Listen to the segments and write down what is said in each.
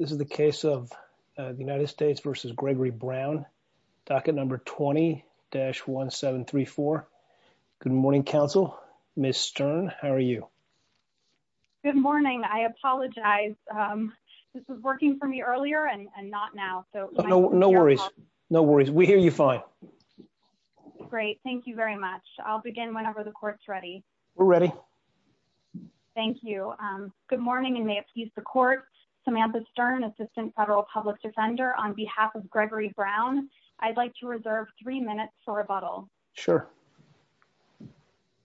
20-1734. Good morning, counsel. Ms. Stern, how are you? Good morning. I apologize. This was working for me earlier and not now. No worries. No worries. We hear you fine. Great. Thank you very much. I'll begin whenever the court's ready. We're ready. Thank you. Good morning, and may it please the court. Samantha Stern, Assistant Federal Public Defender, on behalf of Gregory Brown, I'd like to reserve three minutes for rebuttal. Sure.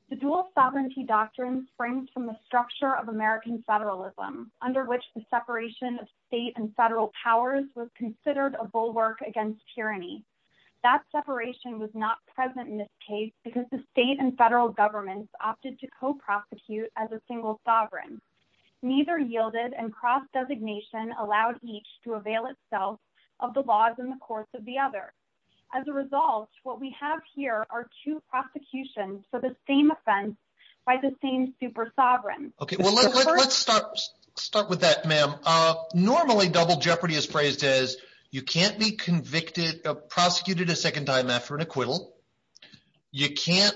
The dual sovereignty doctrine springs from the structure of American federalism, under which the separation of state and federal powers was considered a bulwark against tyranny. That separation was not present in this case because the state and federal governments opted to co-prosecute as a single sovereign. Neither yielded, and cross-designation allowed each to avail itself of the laws in the course of the other. As a result, what we have here are two prosecutions for the same offense by the same super-sovereign. Okay. Well, let's start with that, ma'am. Normally, double jeopardy is phrased as you can't be convicted or prosecuted a second time after an acquittal. You can't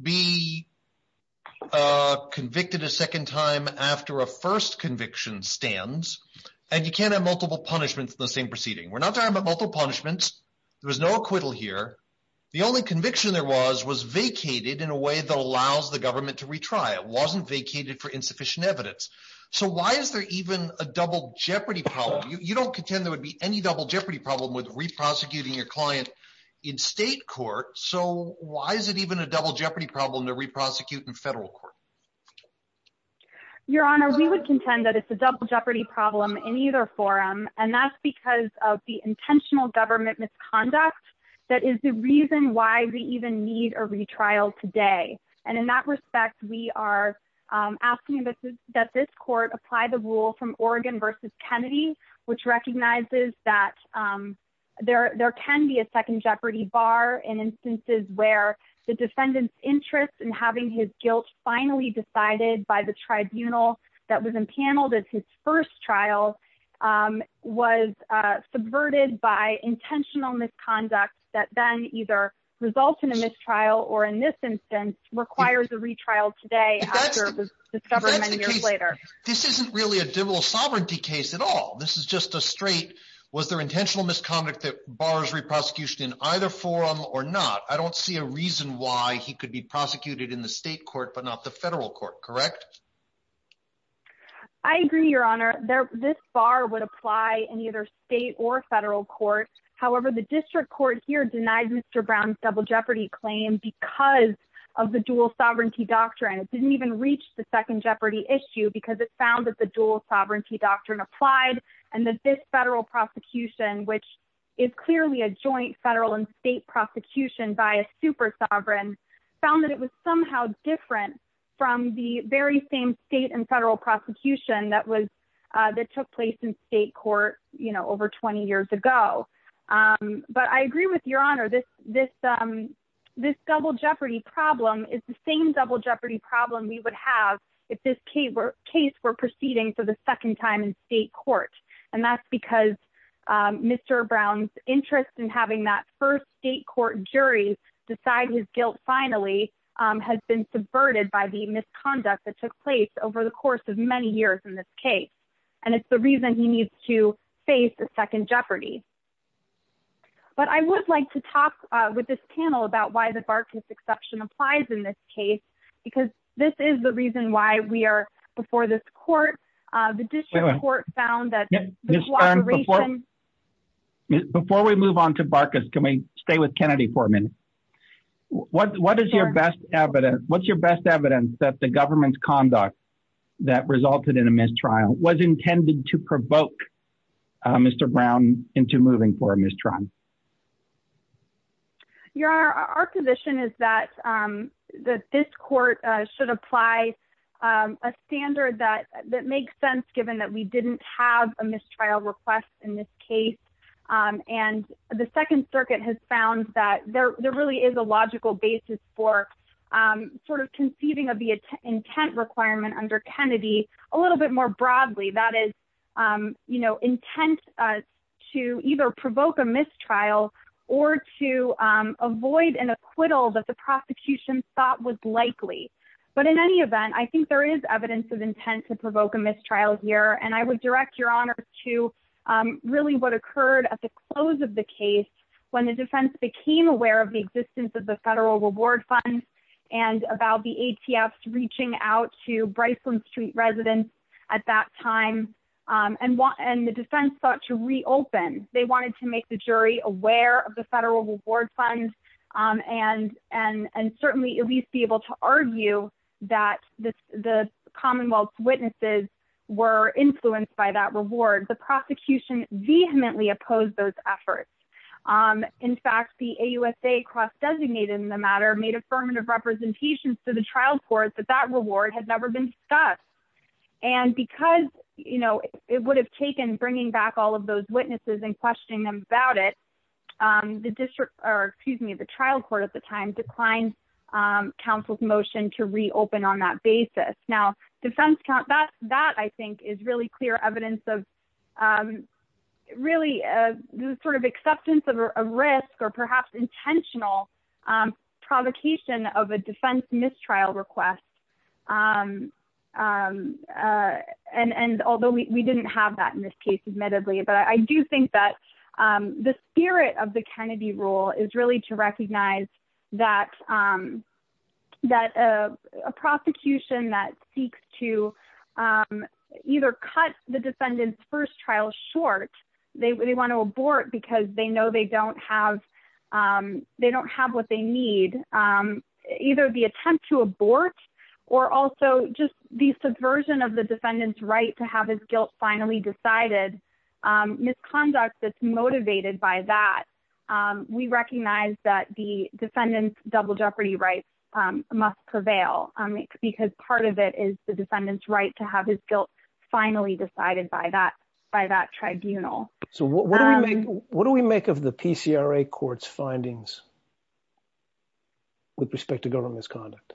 be convicted a second time after a first conviction stands, and you can't have multiple punishments in the same proceeding. We're not talking about multiple punishments. There was no acquittal here. The only conviction there was was vacated in a way that allows the government to retry. It wasn't vacated for insufficient evidence. So why is there even a double jeopardy problem? You don't contend there would be any double jeopardy problem with re-prosecuting your client in state court. So why is it even a double jeopardy problem to re-prosecute in federal court? Your Honor, we would contend that it's a double jeopardy problem in either forum, and that's because of the intentional government misconduct that is the reason why we even need a retrial today. And in that respect, we are asking that this court apply the rule from Oregon versus Kennedy, which recognizes that there can be a second jeopardy bar in instances where the defendant's interest in having his guilt finally decided by the tribunal that was empaneled as his first trial was subverted by intentional misconduct that then either results in a mistrial or in this instance requires a retrial today after it was discovered many years later. This isn't really a double sovereignty case at all. This is just a straight, was there intentional misconduct that bars re-prosecution in either forum or not? I don't see a reason why he could be prosecuted in the state court, but not the federal court, correct? I agree, Your Honor. This bar would apply in either state or federal court. However, the district court here denied Mr. Brown's double jeopardy claim because of the dual sovereignty doctrine. It didn't even reach the second jeopardy issue because it found that the dual sovereignty doctrine applied and that this federal prosecution, which is clearly a joint federal and state prosecution by a super sovereign, found that it was somehow different from the very same state and federal prosecution that took place in state court over 20 years ago. But I agree with Your Honor, this double jeopardy problem is the same double jeopardy problem we would have if this case were proceeding for the second time in state court. And that's because Mr. Brown's interest in having that first state court jury decide his guilt finally has been subverted by the misconduct that took place over the course of many years in this case. And it's the reason he needs to face a second jeopardy. But I would like to talk with this panel about why the Barkas exception applies in this case, because this is the reason why we are before this court. Before we move on to Barkas, can we stay with Kennedy for a minute? What's your best evidence that the government's conduct that resulted in a mistrial was intended to provoke Mr. Brown into moving for a mistrial? Your Honor, our position is that this court should apply a standard that makes sense, given that we didn't have a mistrial request in this case. And the Second Circuit has found that there really is a logical basis for sort of conceiving of the intent requirement under Kennedy a little bit more broadly. That is, you know, intent to either provoke a mistrial or to avoid an acquittal that the prosecution thought was likely. But in any event, I think there is evidence of intent to provoke a mistrial here. And I would direct Your Honor to really what occurred at the close of the case when the defense became aware of the existence of the federal reward fund and about the ATFs reaching out to Briceland Street residents at that time. And the defense sought to reopen. They wanted to make the jury aware of the federal reward fund and certainly at least be able to argue that the Commonwealth's witnesses were influenced by that reward. The prosecution vehemently opposed those efforts. In fact, the AUSA cross-designated in the matter made affirmative representations to the trial court that that reward had never been discussed. And because, you know, it would have taken bringing back all of those witnesses and questioning them about it, the district, or excuse me, the trial court at the time declined counsel's motion to reopen on that basis. Now, that I think is really clear evidence of really sort of acceptance of a risk or perhaps intentional provocation of a defense mistrial request. And although we didn't have that in this case, admittedly, but I do think that the spirit of the Kennedy rule is really to recognize that a prosecution that seeks to either cut the defendant's first trial short, they want to abort because they know they don't have what they need. Either the attempt to abort or also just the subversion of the defendant's right to have his guilt finally decided misconduct that's motivated by that. We recognize that the defendant's double jeopardy rights must prevail because part of it is the defendant's right to have his guilt finally decided by that by that tribunal. So what do we make, what do we make of the PCRA courts findings. With respect to government's conduct.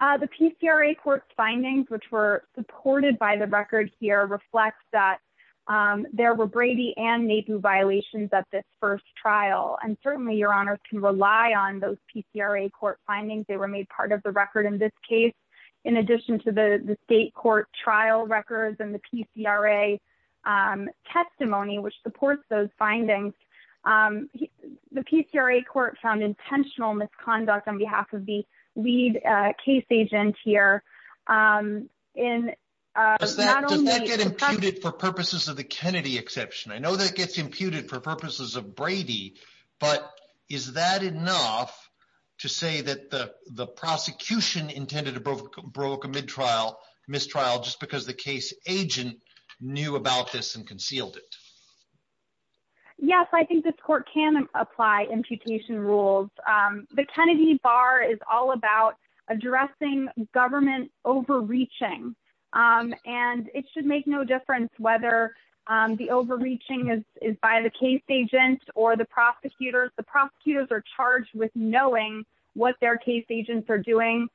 The PCRA court findings which were supported by the record here reflects that there were Brady and maybe violations at this first trial and certainly Your Honor can rely on those PCRA court findings they were made part of the record in this case. In addition to the state court trial records and the PCRA testimony which supports those findings. The PCRA court found intentional misconduct on behalf of the lead case agent here. Does that get imputed for purposes of the Kennedy exception I know that gets imputed for purposes of Brady, but is that enough to say that the prosecution intended to broke a mid trial mistrial just because the case agent knew about this and concealed it. Yes, I think this court can apply imputation rules. The Kennedy bar is all about addressing government overreaching. And it should make no difference whether the overreaching is by the case agent or the prosecutors the prosecutors are charged with knowing what their case agents are doing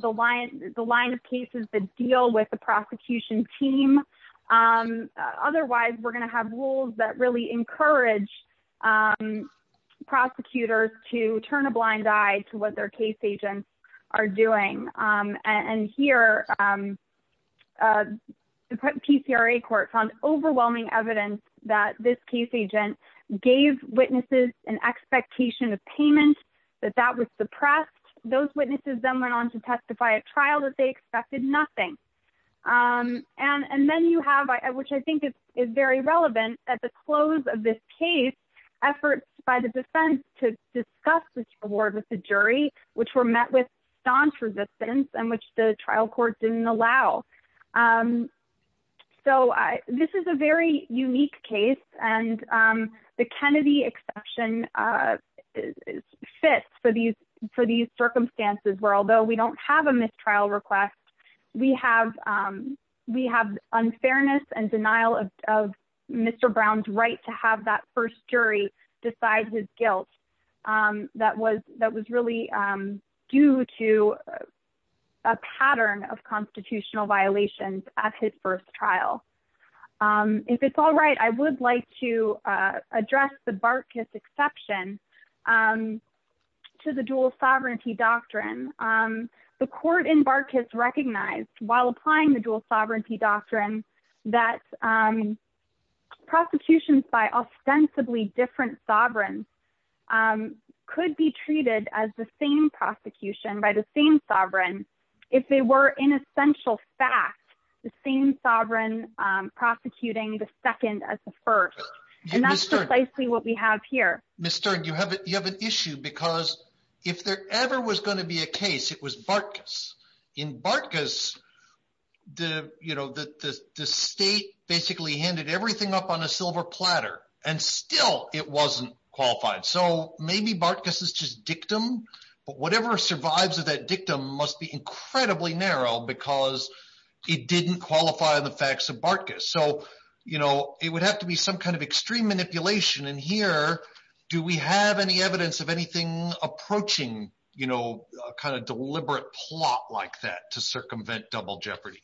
the line, the line of cases that deal with the prosecution team. Otherwise, we're going to have rules that really encourage prosecutors to turn a blind eye to what their case agents are doing and here. PCRA court found overwhelming evidence that this case agent gave witnesses and expectation of payment that that was suppressed those witnesses them went on to testify a trial that they expected nothing. And then you have, which I think is very relevant at the close of this case efforts by the defense to discuss this award with the jury, which were met with staunch resistance and which the trial court didn't allow. So, this is a very unique case, and the Kennedy exception is fit for these for these circumstances where although we don't have a mistrial request, we have, we have unfairness and denial of Mr. Brown's right to have that first jury decide his guilt that was that was really due to a pattern of constitutional violations at his first trial. If it's all right, I would like to address the Barkis exception to the dual sovereignty doctrine, the court in Barkis recognized while applying the dual sovereignty doctrine that prosecutions by ostensibly different sovereign could be treated as the same prosecution by the same sovereign if they were in essential fact, the same sovereign prosecuting the second as the first, and that's precisely what we have here, Mr. issue because if there ever was going to be a case it was Barkis in Barkis, the, you know, the state basically handed everything up on a silver platter, and still, it wasn't qualified so maybe Barkis is just dictum, but whatever survives of that dictum must be incredibly narrow because it didn't qualify the facts of Barkis so you know, it would have to be some kind of extreme manipulation and here. Do we have any evidence of anything approaching, you know, kind of deliberate plot like that to circumvent double jeopardy.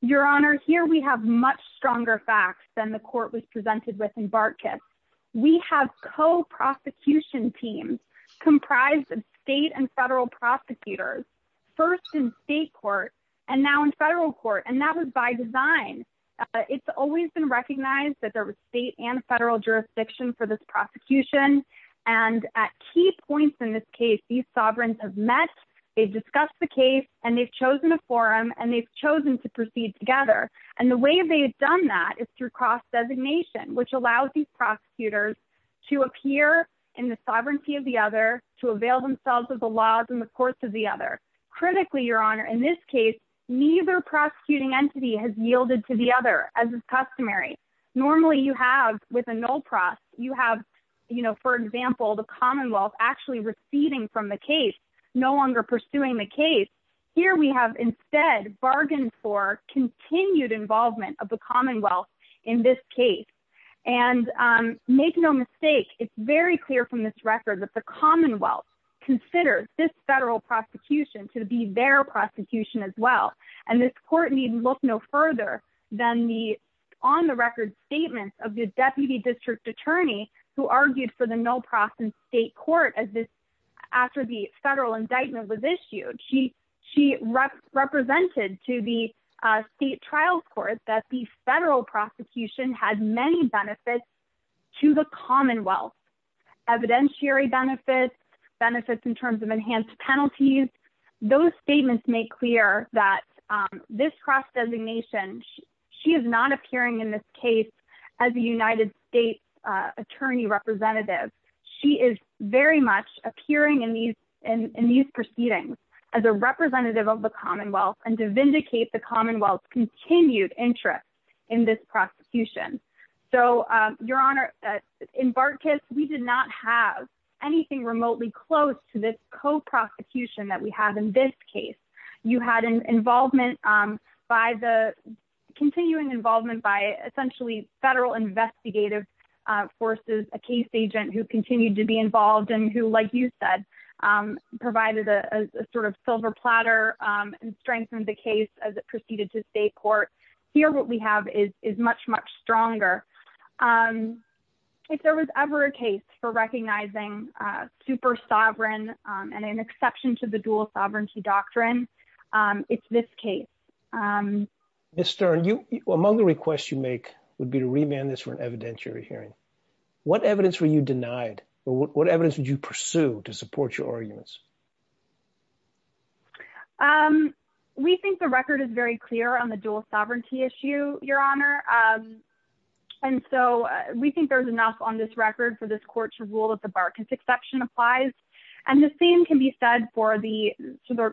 Your Honor, here we have much stronger facts than the court was presented with in Barkis. We have co prosecution teams comprised of state and federal prosecutors, first in state court, and now in federal court and that was by design. It's always been recognized that there was state and federal jurisdiction for this prosecution, and at key points in this case these sovereigns have met, they've discussed the case, and they've chosen a forum and they've chosen to proceed together, and the way they've done that is through which allows these prosecutors to appear in the sovereignty of the other to avail themselves of the laws and the courts of the other. Critically, Your Honor, in this case, neither prosecuting entity has yielded to the other as is customary. Normally you have with a null prosecution, the Commonwealth actually receding from the case, no longer pursuing the case. Here we have instead bargained for continued involvement of the Commonwealth in this case. And make no mistake, it's very clear from this record that the Commonwealth considers this federal prosecution to be their prosecution as well. And this court needn't look no further than the on the record statements of the Deputy District Attorney who argued for the null process in state court as this after the federal indictment was issued. She represented to the state trials court that the federal prosecution had many benefits to the Commonwealth. Evidentiary benefits, benefits in terms of enhanced penalties. Those statements make clear that this cross designation, she is not appearing in this case as a United States Attorney representative. She is very much appearing in these proceedings as a representative of the Commonwealth and to vindicate the Commonwealth's continued interest in this prosecution. So, Your Honor, in Bartkus, we did not have anything remotely close to this co-prosecution that we have in this case. You had an involvement by the continuing involvement by essentially federal investigative forces, a case agent who continued to be involved and who, like you said, provided a sort of silver platter and strengthened the case as it proceeded to state court. Here, what we have is much, much stronger. If there was ever a case for recognizing super sovereign and an exception to the dual sovereignty doctrine, it's this case. Mr. Stern, among the requests you make would be to remand this for an evidentiary hearing. What evidence were you denied? What evidence would you pursue to support your arguments? We think the record is very clear on the dual sovereignty issue, Your Honor. And so we think there's enough on this record for this court to rule that the Bartkus exception applies. And the same can be said for the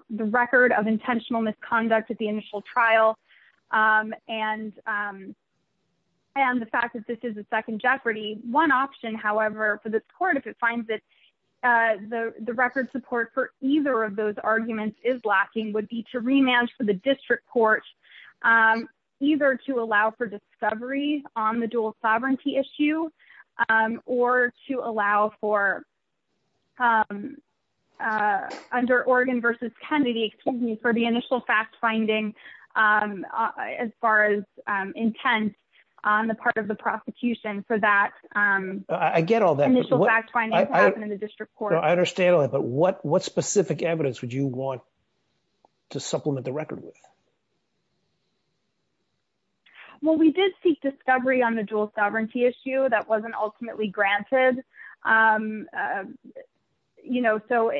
record of intentional misconduct at the initial trial and the fact that this is a second jeopardy. One option, however, for this court, if it finds that the record support for either of those arguments is lacking, would be to remand for the district court either to allow for discovery on the dual sovereignty issue or to allow for, under Oregon versus Kennedy, excuse me, for the initial fact finding as far as intent on the part of the prosecution for that initial fact finding to happen in the district court. I understand all that, but what specific evidence would you want to supplement the record with? Well, we did seek discovery on the dual sovereignty issue that wasn't ultimately granted. You know, so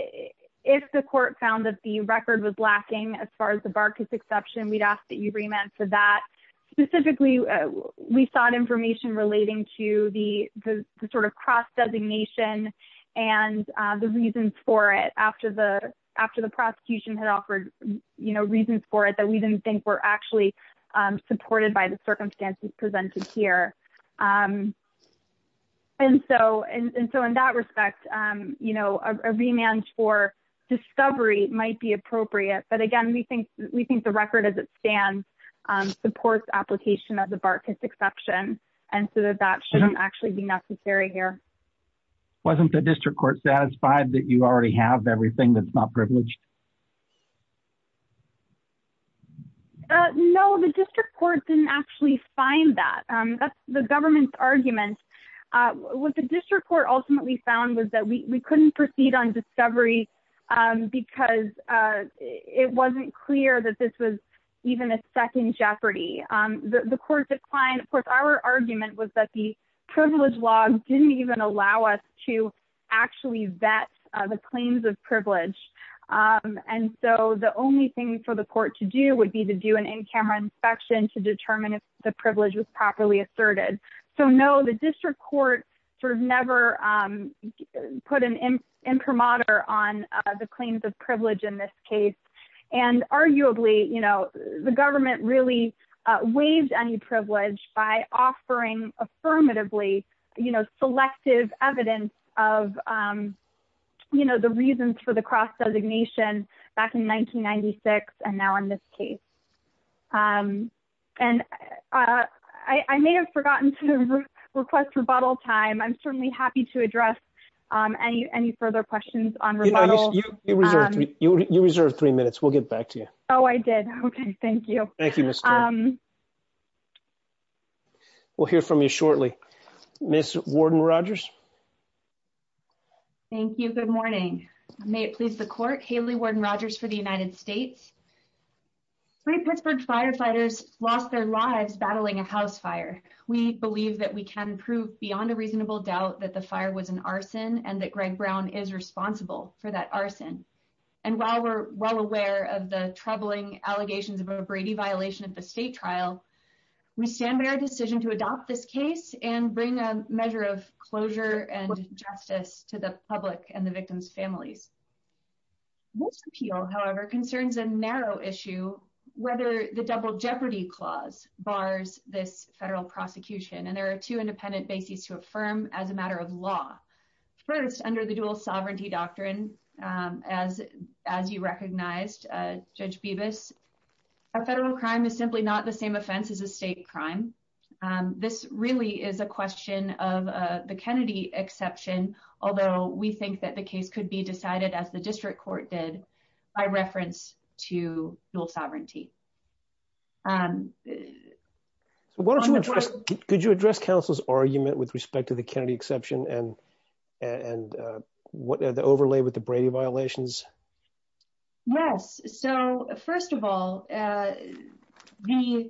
if the court found that the record was lacking as far as the Bartkus exception, we'd ask that you remand for that. Specifically, we sought information relating to the sort of cross designation and the reasons for it after the prosecution had offered reasons for it that we didn't think were actually supported by the circumstances presented here. And so in that respect, you know, a remand for discovery might be appropriate, but again, we think the record as it stands supports application of the Bartkus exception and so that that shouldn't actually be necessary here. Wasn't the district court satisfied that you already have everything that's not privileged? No, the district court didn't actually find that. That's the government's argument. What the district court ultimately found was that we couldn't proceed on discovery because it wasn't clear that this was even a second jeopardy. The court declined. Of course, our argument was that the privilege law didn't even allow us to actually vet the claims of privilege. And so the only thing for the court to do would be to do an in-camera inspection to determine if the privilege was properly asserted. So no, the district court sort of never put an imprimatur on the claims of privilege in this case. And arguably, you know, the government really waived any privilege by offering affirmatively, you know, selective evidence of, you know, the reasons for the cross designation back in 1996 and now in this case. And I may have forgotten to request rebuttal time. I'm certainly happy to address any further questions on rebuttal. You reserved three minutes. We'll get back to you. Oh, I did. Okay. Thank you. Thank you. We'll hear from you shortly. Miss Warden Rogers. Thank you. Good morning. May it please the court. Haley Warden Rogers for the United States. Three Pittsburgh firefighters lost their lives battling a house fire. We believe that we can prove beyond a reasonable doubt that the fire was an arson and that Greg Brown is responsible for that arson. And while we're well aware of the troubling allegations of a Brady violation of the state trial, we stand by our decision to adopt this case and bring a measure of closure and justice to the public and the victim's families. Most appeal, however, concerns a narrow issue, whether the double jeopardy clause bars this federal prosecution and there are two independent bases to affirm as a matter of law. First, under the dual sovereignty doctrine, as, as you recognized, Judge Bibas, a federal crime is simply not the same offense as a state crime. This really is a question of the Kennedy exception, although we think that the case could be decided as the district court did by reference to dual sovereignty. Why don't you address. Could you address counsel's argument with respect to the Kennedy exception and and what the overlay with the Brady violations. Yes. So, first of all, the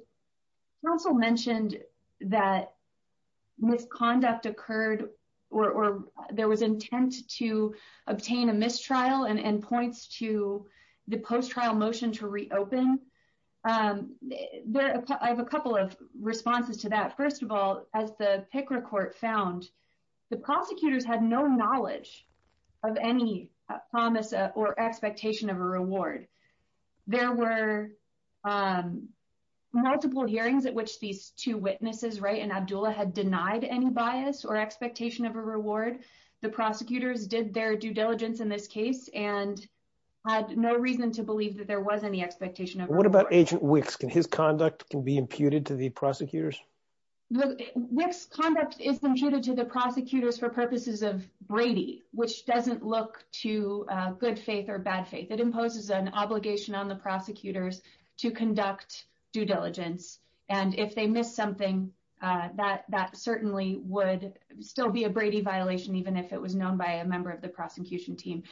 council mentioned that misconduct occurred, or there was intent to obtain a mistrial and points to the post trial motion to reopen. There are a couple of responses to that. First of all, as the picker court found the prosecutors had no knowledge of any promise or expectation of a reward. There were multiple hearings at which these two witnesses right and Abdullah had denied any bias or expectation of a reward. The prosecutors did their due diligence in this case and had no reason to believe that there was any expectation of what about agent weeks can his conduct can be imputed to the prosecutors. This conduct is intruded to the prosecutors for purposes of Brady, which doesn't look to good faith or bad faith that imposes an obligation on the prosecutors to conduct due diligence. And if they miss something that that certainly would still be a Brady violation, even if it was known by a member of the prosecution team.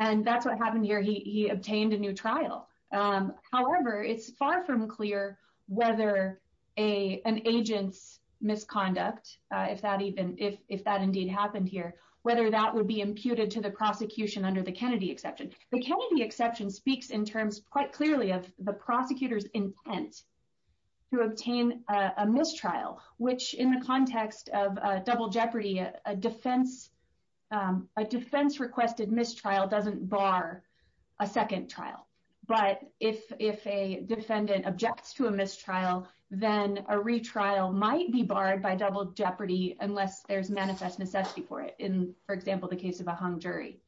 And that's what happened here. He obtained a new trial. However, it's far from clear whether a an agent's misconduct, if that even if that indeed happened here, whether that would be imputed to the prosecution under the Kennedy exception. The Kennedy exception speaks in terms quite clearly of the prosecutors intent to obtain a mistrial, which in the context of double jeopardy, a defense, a defense requested mistrial doesn't bar a second trial. But if if a defendant objects to a mistrial, then a retrial might be barred by double jeopardy, unless there's manifest necessity for it in, for example, the case of a hung jury.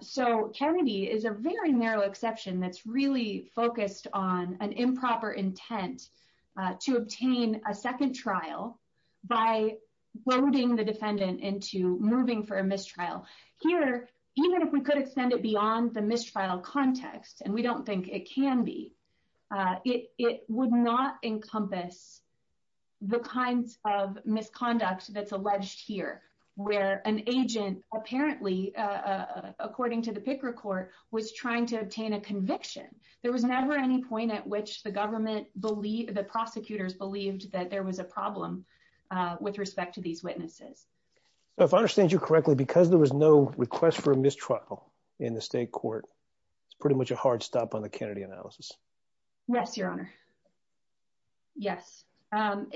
So Kennedy is a very narrow exception that's really focused on an improper intent to obtain a second trial by loading the defendant into moving for a mistrial here, even if we could extend it beyond the mistrial context. And we don't think it can be. It would not encompass the kinds of misconduct that's alleged here, where an agent apparently, according to the Picker court, was trying to obtain a conviction. There was never any point at which the government believe the prosecutors believed that there was a problem with respect to these witnesses. If I understand you correctly, because there was no request for mistrial in the state court. It's pretty much a hard stop on the Kennedy analysis. Yes, Your Honor. Yes. Even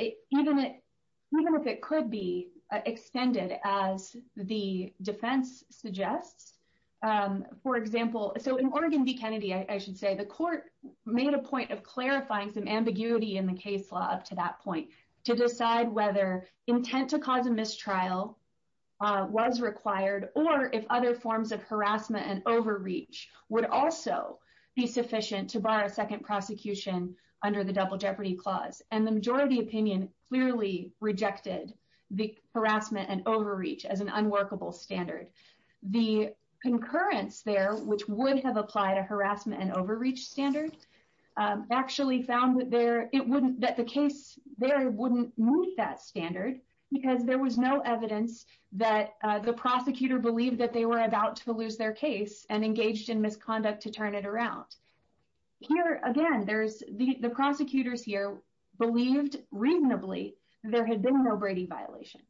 if it could be extended as the defense suggests, for example, so in Oregon v. Kennedy, I should say the court made a point of clarifying some ambiguity in the case law up to that point to decide whether intent to cause a mistrial was required, or if other forms of And the majority opinion clearly rejected the harassment and overreach as an unworkable standard. The concurrence there, which would have applied a harassment and overreach standard, actually found that the case there wouldn't meet that standard, because there was no evidence that the prosecutor believed that they were about to lose their case and engaged in misconduct to turn it around. Here again, there's the prosecutors here believed reasonably, there had been no Brady violation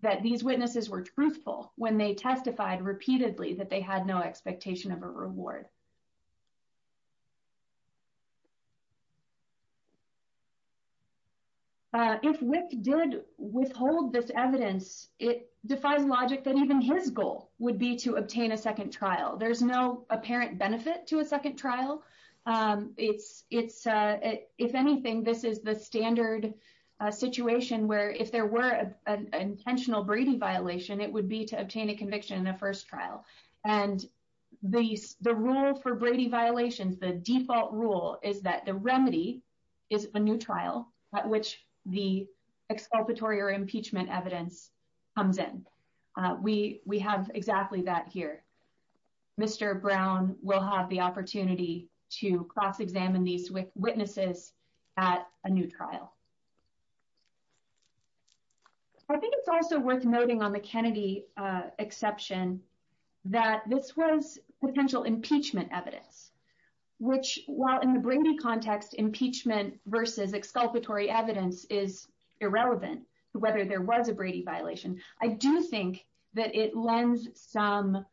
that these witnesses were truthful when they testified repeatedly that they had no expectation of a reward. If WIC did withhold this evidence, it defies logic that even his goal would be to obtain a second trial. There's no apparent benefit to a second trial. If anything, this is the standard situation where if there were an intentional Brady violation, it would be to obtain a conviction in a first trial. And the rule for Brady violations, the default rule, is that the remedy is a new trial at which the exculpatory or impeachment evidence comes in. We have exactly that here. Mr. Brown will have the opportunity to cross-examine these witnesses at a new trial. I think it's also worth noting on the Kennedy exception that this was potential impeachment evidence, which, while in the Brady context impeachment versus exculpatory evidence is irrelevant to whether there was a Brady violation, I do think that it lends some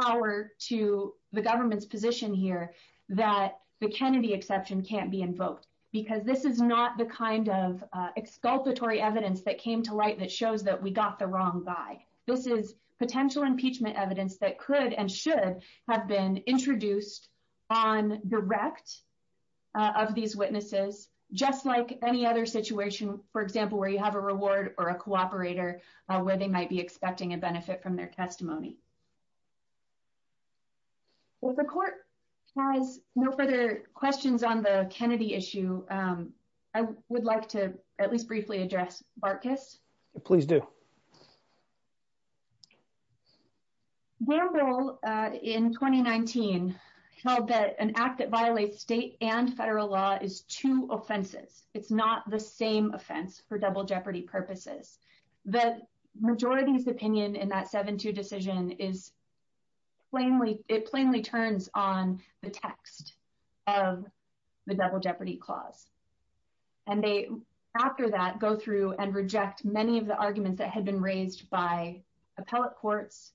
power to the government's position here that the Kennedy exception can't be invoked because this is not the kind of exculpatory evidence that came to light that shows that we got the wrong guy. This is potential impeachment evidence that could and should have been introduced on direct of these witnesses, just like any other situation, for example, where you have a reward or a cooperator where they might be expecting a benefit from their testimony. Well, the court has no further questions on the Kennedy issue. I would like to at least briefly address Barkas. Please do. Gamble, in 2019, held that an act that violates state and federal law is two offenses. It's not the same offense for double jeopardy purposes. The majority's opinion in that 7-2 decision is plainly, it plainly turns on the text of the double jeopardy clause. And they, after that, go through and reject many of the arguments that had been raised by appellate courts,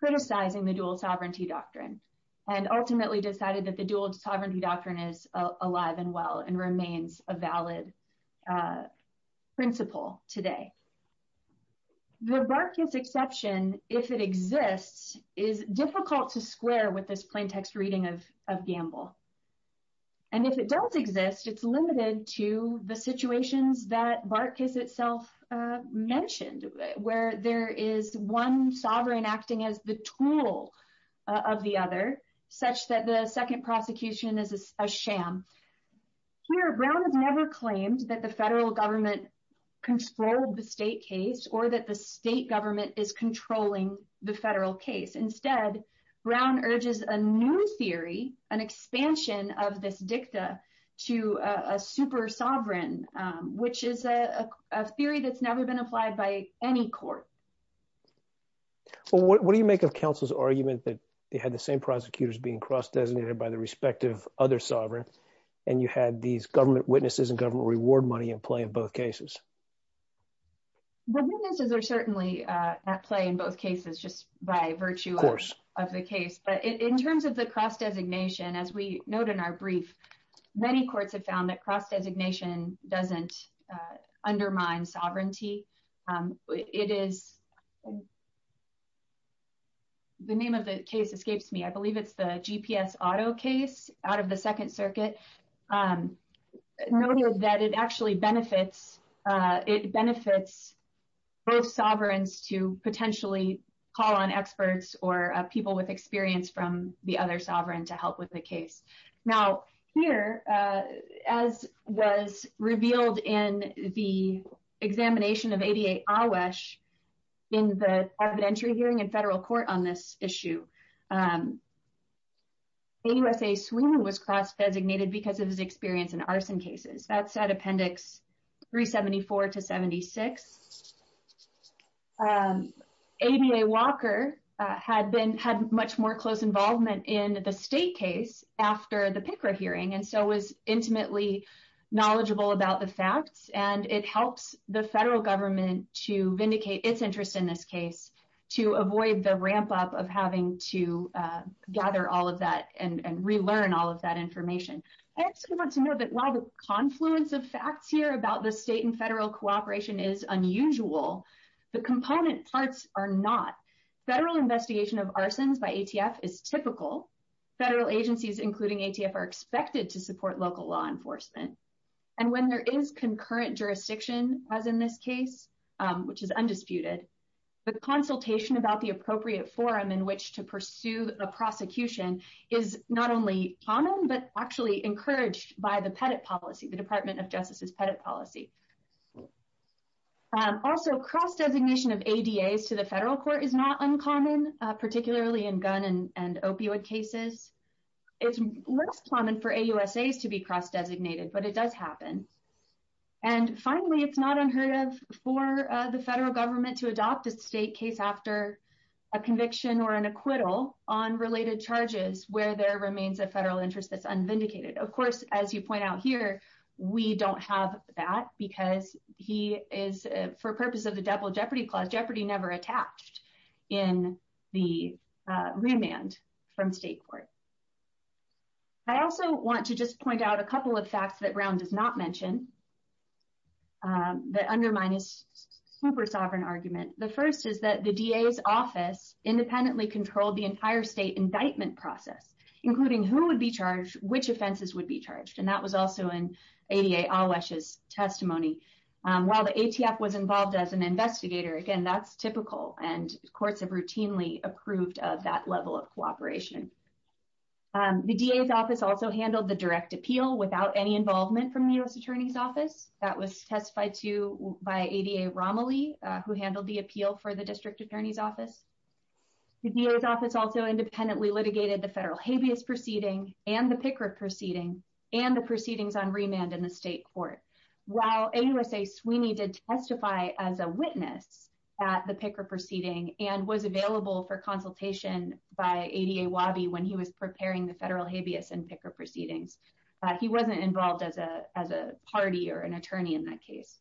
criticizing the dual sovereignty doctrine, and ultimately decided that the dual sovereignty doctrine is alive and well and remains a valid principle today. The Barkas exception, if it exists, is difficult to square with this plain text reading of Gamble. And if it does exist, it's limited to the situations that Barkas itself mentioned, where there is one sovereign acting as the tool of the other, such that the second prosecution is a sham. Here, Brown has never claimed that the federal government controlled the state case or that the state government is controlling the federal case. Instead, Brown urges a new theory, an expansion of this dicta to a super sovereign, which is a theory that's never been applied by any court. Well, what do you make of counsel's argument that they had the same prosecutors being cross-designated by the respective other sovereign, and you had these government witnesses and government reward money in play in both cases? The witnesses are certainly at play in both cases, just by virtue of the case. But in terms of the cross-designation, as we note in our brief, many courts have found that cross-designation doesn't undermine sovereignty. The name of the case escapes me. I believe it's the GPS Auto case out of the Second Circuit. It benefits both sovereigns to potentially call on experts or people with experience from the other sovereign to help with the case. Now, here, as was revealed in the examination of ABA Awash in the evidentiary hearing in federal court on this issue, AUSA Sweeman was cross-designated because of his experience in arson cases. That's at Appendix 374 to 76. ABA Walker had much more close involvement in the state case after the PICRA hearing, and so was intimately knowledgeable about the facts, and it helps the federal government to vindicate its interest in this case to avoid the ramp-up of having to gather all of that and relearn all of that information. I also want to note that while the confluence of facts here about the state and federal cooperation is unusual, the component parts are not. Federal investigation of arsons by ATF is typical. Federal agencies, including ATF, are expected to support local law enforcement. And when there is concurrent jurisdiction, as in this case, which is undisputed, the consultation about the appropriate forum in which to pursue the prosecution is not only common, but actually encouraged by the Pettit policy, the Department of Justice's Pettit policy. Also, cross-designation of ADAs to the federal court is not uncommon, particularly in gun and opioid cases. It's less common for AUSAs to be cross-designated, but it does happen. And finally, it's not unheard of for the federal government to adopt a state case after a conviction or an acquittal on related charges where there remains a federal interest that's unvindicated. Of course, as you point out here, we don't have that because he is, for purpose of the double jeopardy clause, jeopardy never attached in the remand from state court. I also want to just point out a couple of facts that Brown does not mention that undermine his super-sovereign argument. The first is that the DA's office independently controlled the entire state indictment process, including who would be charged, which offenses would be charged, and that was also in ADA Alwesh's testimony. While the ATF was involved as an investigator, again, that's typical, and courts have routinely approved of that level of cooperation. The DA's office also handled the direct appeal without any involvement from the U.S. Attorney's Office. That was testified to by ADA Romilly, who handled the appeal for the district attorney's office. The DA's office also independently litigated the federal habeas proceeding and the PICRA proceeding and the proceedings on remand in the state court. While ADA Sweeney did testify as a witness at the PICRA proceeding and was available for consultation by ADA Wabi when he was preparing the federal habeas and PICRA proceedings, he wasn't involved as a party or an attorney in that case.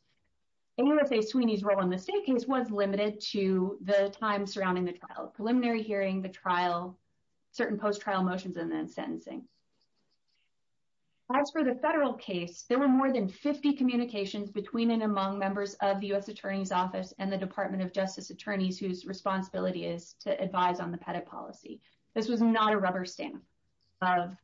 ADA Sweeney's role in the state case was limited to the time surrounding the trial, preliminary hearing, the trial, certain post-trial motions, and then sentencing. As for the federal case, there were more than 50 communications between and among members of the U.S. Attorney's Office and the Department of Justice attorneys whose responsibility is to advise on the Pettit policy. This was not a rubber stamp of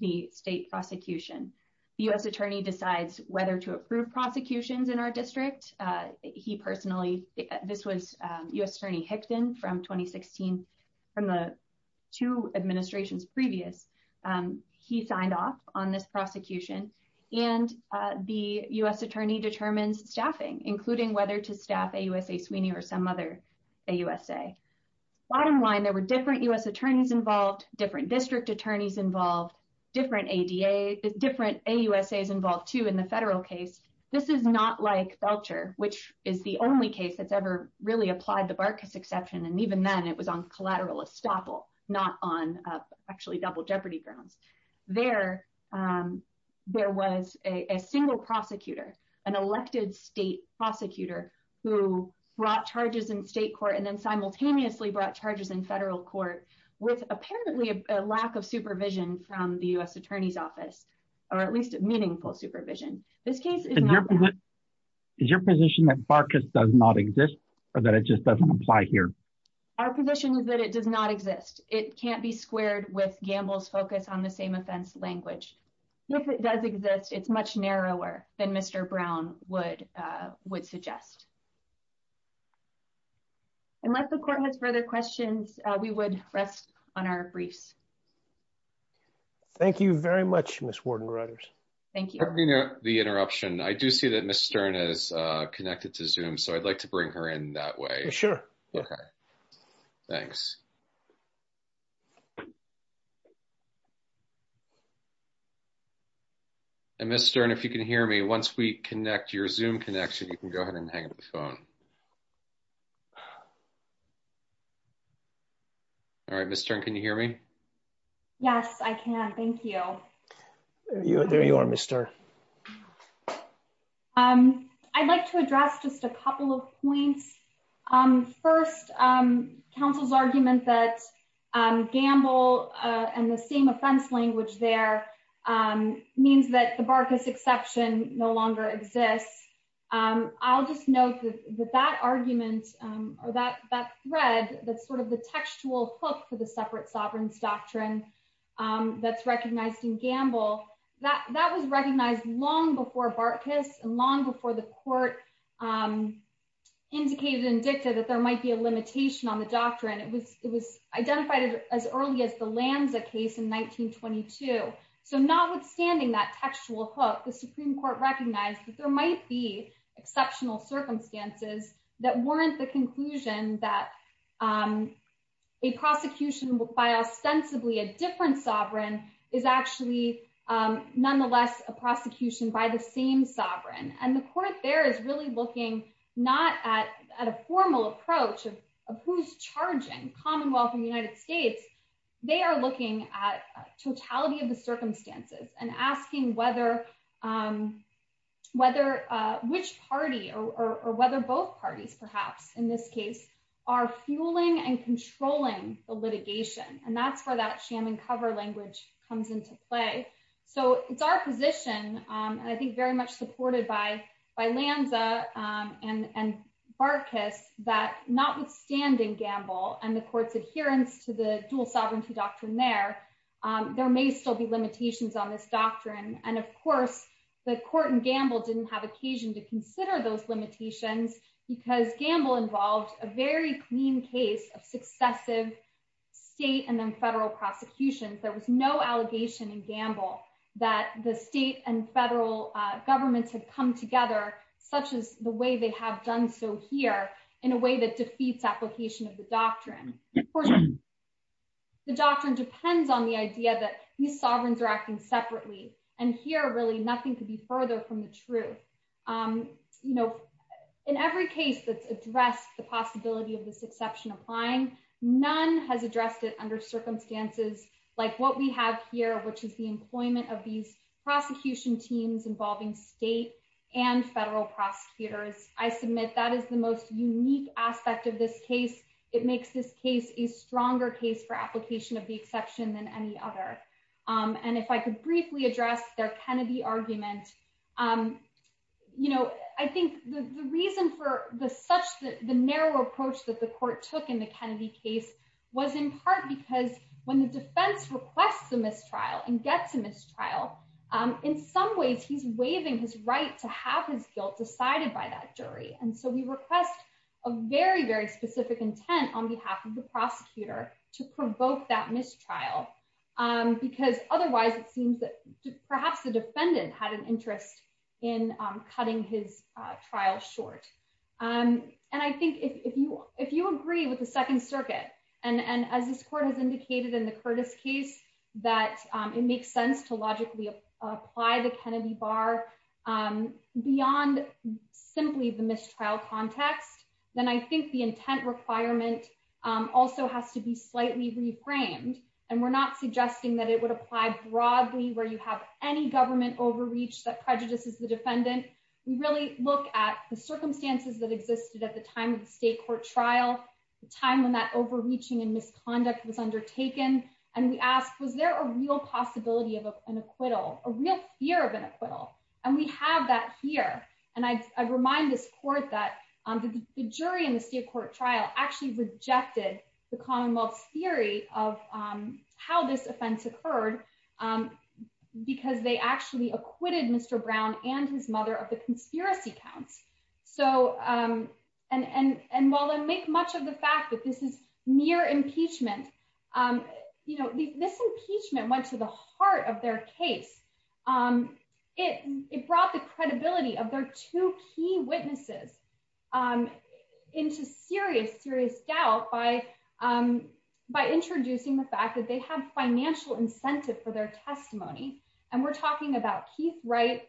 the state prosecution. The U.S. Attorney decides whether to approve prosecutions in our district. This was U.S. Attorney Hickton from 2016. From the two administrations previous, he signed off on this prosecution, and the U.S. Attorney determines staffing, including whether to staff AUSA Sweeney or some other AUSA. Bottom line, there were different U.S. Attorneys involved, different district attorneys involved, different AUSAs involved, too, in the federal case. This is not like Belcher, which is the only case that's ever really applied the Barkas exception, and even then it was on collateral estoppel, not on actually double jeopardy grounds. There was a single prosecutor, an elected state prosecutor, who brought charges in state court and then simultaneously brought charges in federal court with apparently a lack of supervision from the U.S. Attorney's Office, or at least meaningful supervision. This case is not that. Is your position that Barkas does not exist, or that it just doesn't apply here? Our position is that it does not exist. It can't be squared with Gamble's focus on the same offense language. If it does exist, it's much narrower than Mr. Brown would suggest. Unless the court has further questions, we would rest on our briefs. Thank you very much, Ms. Warden-Reuters. Thank you. The interruption. I do see that Ms. Stern is connected to Zoom, so I'd like to bring her in that way. Sure. Okay. Thanks. Ms. Stern, if you can hear me, once we connect your Zoom connection, you can go ahead and hang up the phone. All right, Ms. Stern, can you hear me? Yes, I can. Thank you. There you are, Ms. Stern. I'd like to address just a couple of points. First, counsel's argument that Gamble and the same offense language there means that the Barkas exception no longer exists. I'll just note that that argument or that thread that's sort of the textual hook for the separate sovereigns doctrine that's recognized in Gamble. That was recognized long before Barkas and long before the court indicated and dictated that there might be a limitation on the doctrine. It was identified as early as the Lanza case in 1922. So notwithstanding that textual hook, the Supreme Court recognized that there might be exceptional circumstances that warrant the conclusion that a prosecution by ostensibly a different sovereign is actually nonetheless a prosecution by the same sovereign. And the court there is really looking not at a formal approach of who's charging Commonwealth and United States. They are looking at totality of the circumstances and asking whether which party or whether both parties, perhaps in this case, are fueling and controlling the litigation. And that's where that sham and cover language comes into play. So it's our position, and I think very much supported by Lanza and Barkas, that notwithstanding Gamble and the court's adherence to the dual sovereignty doctrine there, there may still be limitations on this doctrine. And of course, the court in Gamble didn't have occasion to consider those limitations because Gamble involved a very clean case of successive state and then federal prosecution. There was no allegation in Gamble that the state and federal governments had come together, such as the way they have done so here, in a way that defeats application of the doctrine. The doctrine depends on the idea that these sovereigns are acting separately, and here really nothing could be further from the truth. In every case that's addressed the possibility of this exception applying, none has addressed it under circumstances like what we have here, which is the employment of these prosecution teams involving state and federal prosecutors. I submit that is the most unique aspect of this case. It makes this case a stronger case for application of the exception than any other. And if I could briefly address their Kennedy argument. I think the reason for the narrow approach that the court took in the Kennedy case was in part because when the defense requests a mistrial and gets a mistrial, in some ways he's waiving his right to have his guilt decided by that jury. And so we request a very, very specific intent on behalf of the prosecutor to provoke that mistrial. Because otherwise it seems that perhaps the defendant had an interest in cutting his trial short. And I think if you agree with the Second Circuit, and as this court has indicated in the Curtis case, that it makes sense to logically apply the Kennedy bar beyond simply the mistrial context, then I think the intent requirement also has to be slightly reframed. And we're not suggesting that it would apply broadly where you have any government overreach that prejudices the defendant. We really look at the circumstances that existed at the time of the state court trial, the time when that overreaching and misconduct was undertaken. And we ask, was there a real possibility of an acquittal, a real fear of an acquittal? And we have that here. And I remind this court that the jury in the state court trial actually rejected the Commonwealth's theory of how this offense occurred, because they actually acquitted Mr. Brown and his mother of the conspiracy counts. And while I make much of the fact that this is mere impeachment, this impeachment went to the heart of their case. It brought the credibility of their two key witnesses into serious, serious doubt by introducing the fact that they have financial incentive for their testimony. And we're talking about Keith Wright,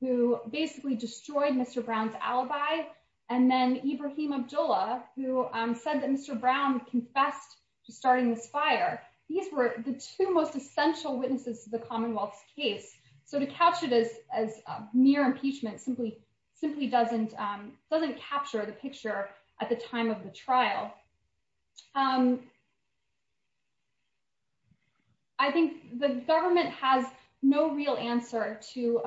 who basically destroyed Mr. Brown's alibi. And then Ibrahim Abdullah, who said that Mr. Brown confessed to starting this fire. These were the two most essential witnesses to the Commonwealth's case. So to couch it as mere impeachment simply doesn't capture the picture at the time of the trial. I think the government has no real answer to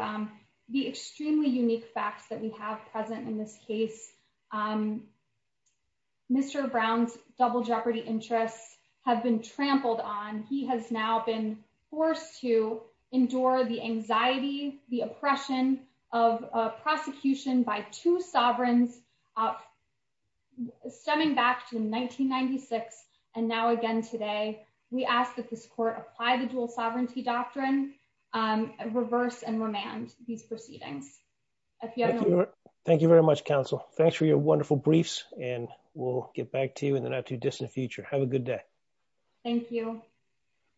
the extremely unique facts that we have present in this case. Mr. Brown's double jeopardy interests have been trampled on. He has now been forced to endure the anxiety, the oppression of prosecution by two sovereigns, stemming back to 1996 and now again today. We ask that this court apply the dual sovereignty doctrine, reverse and remand these proceedings. Thank you very much, counsel. Thanks for your wonderful briefs, and we'll get back to you in the not too distant future. Have a good day. Thank you.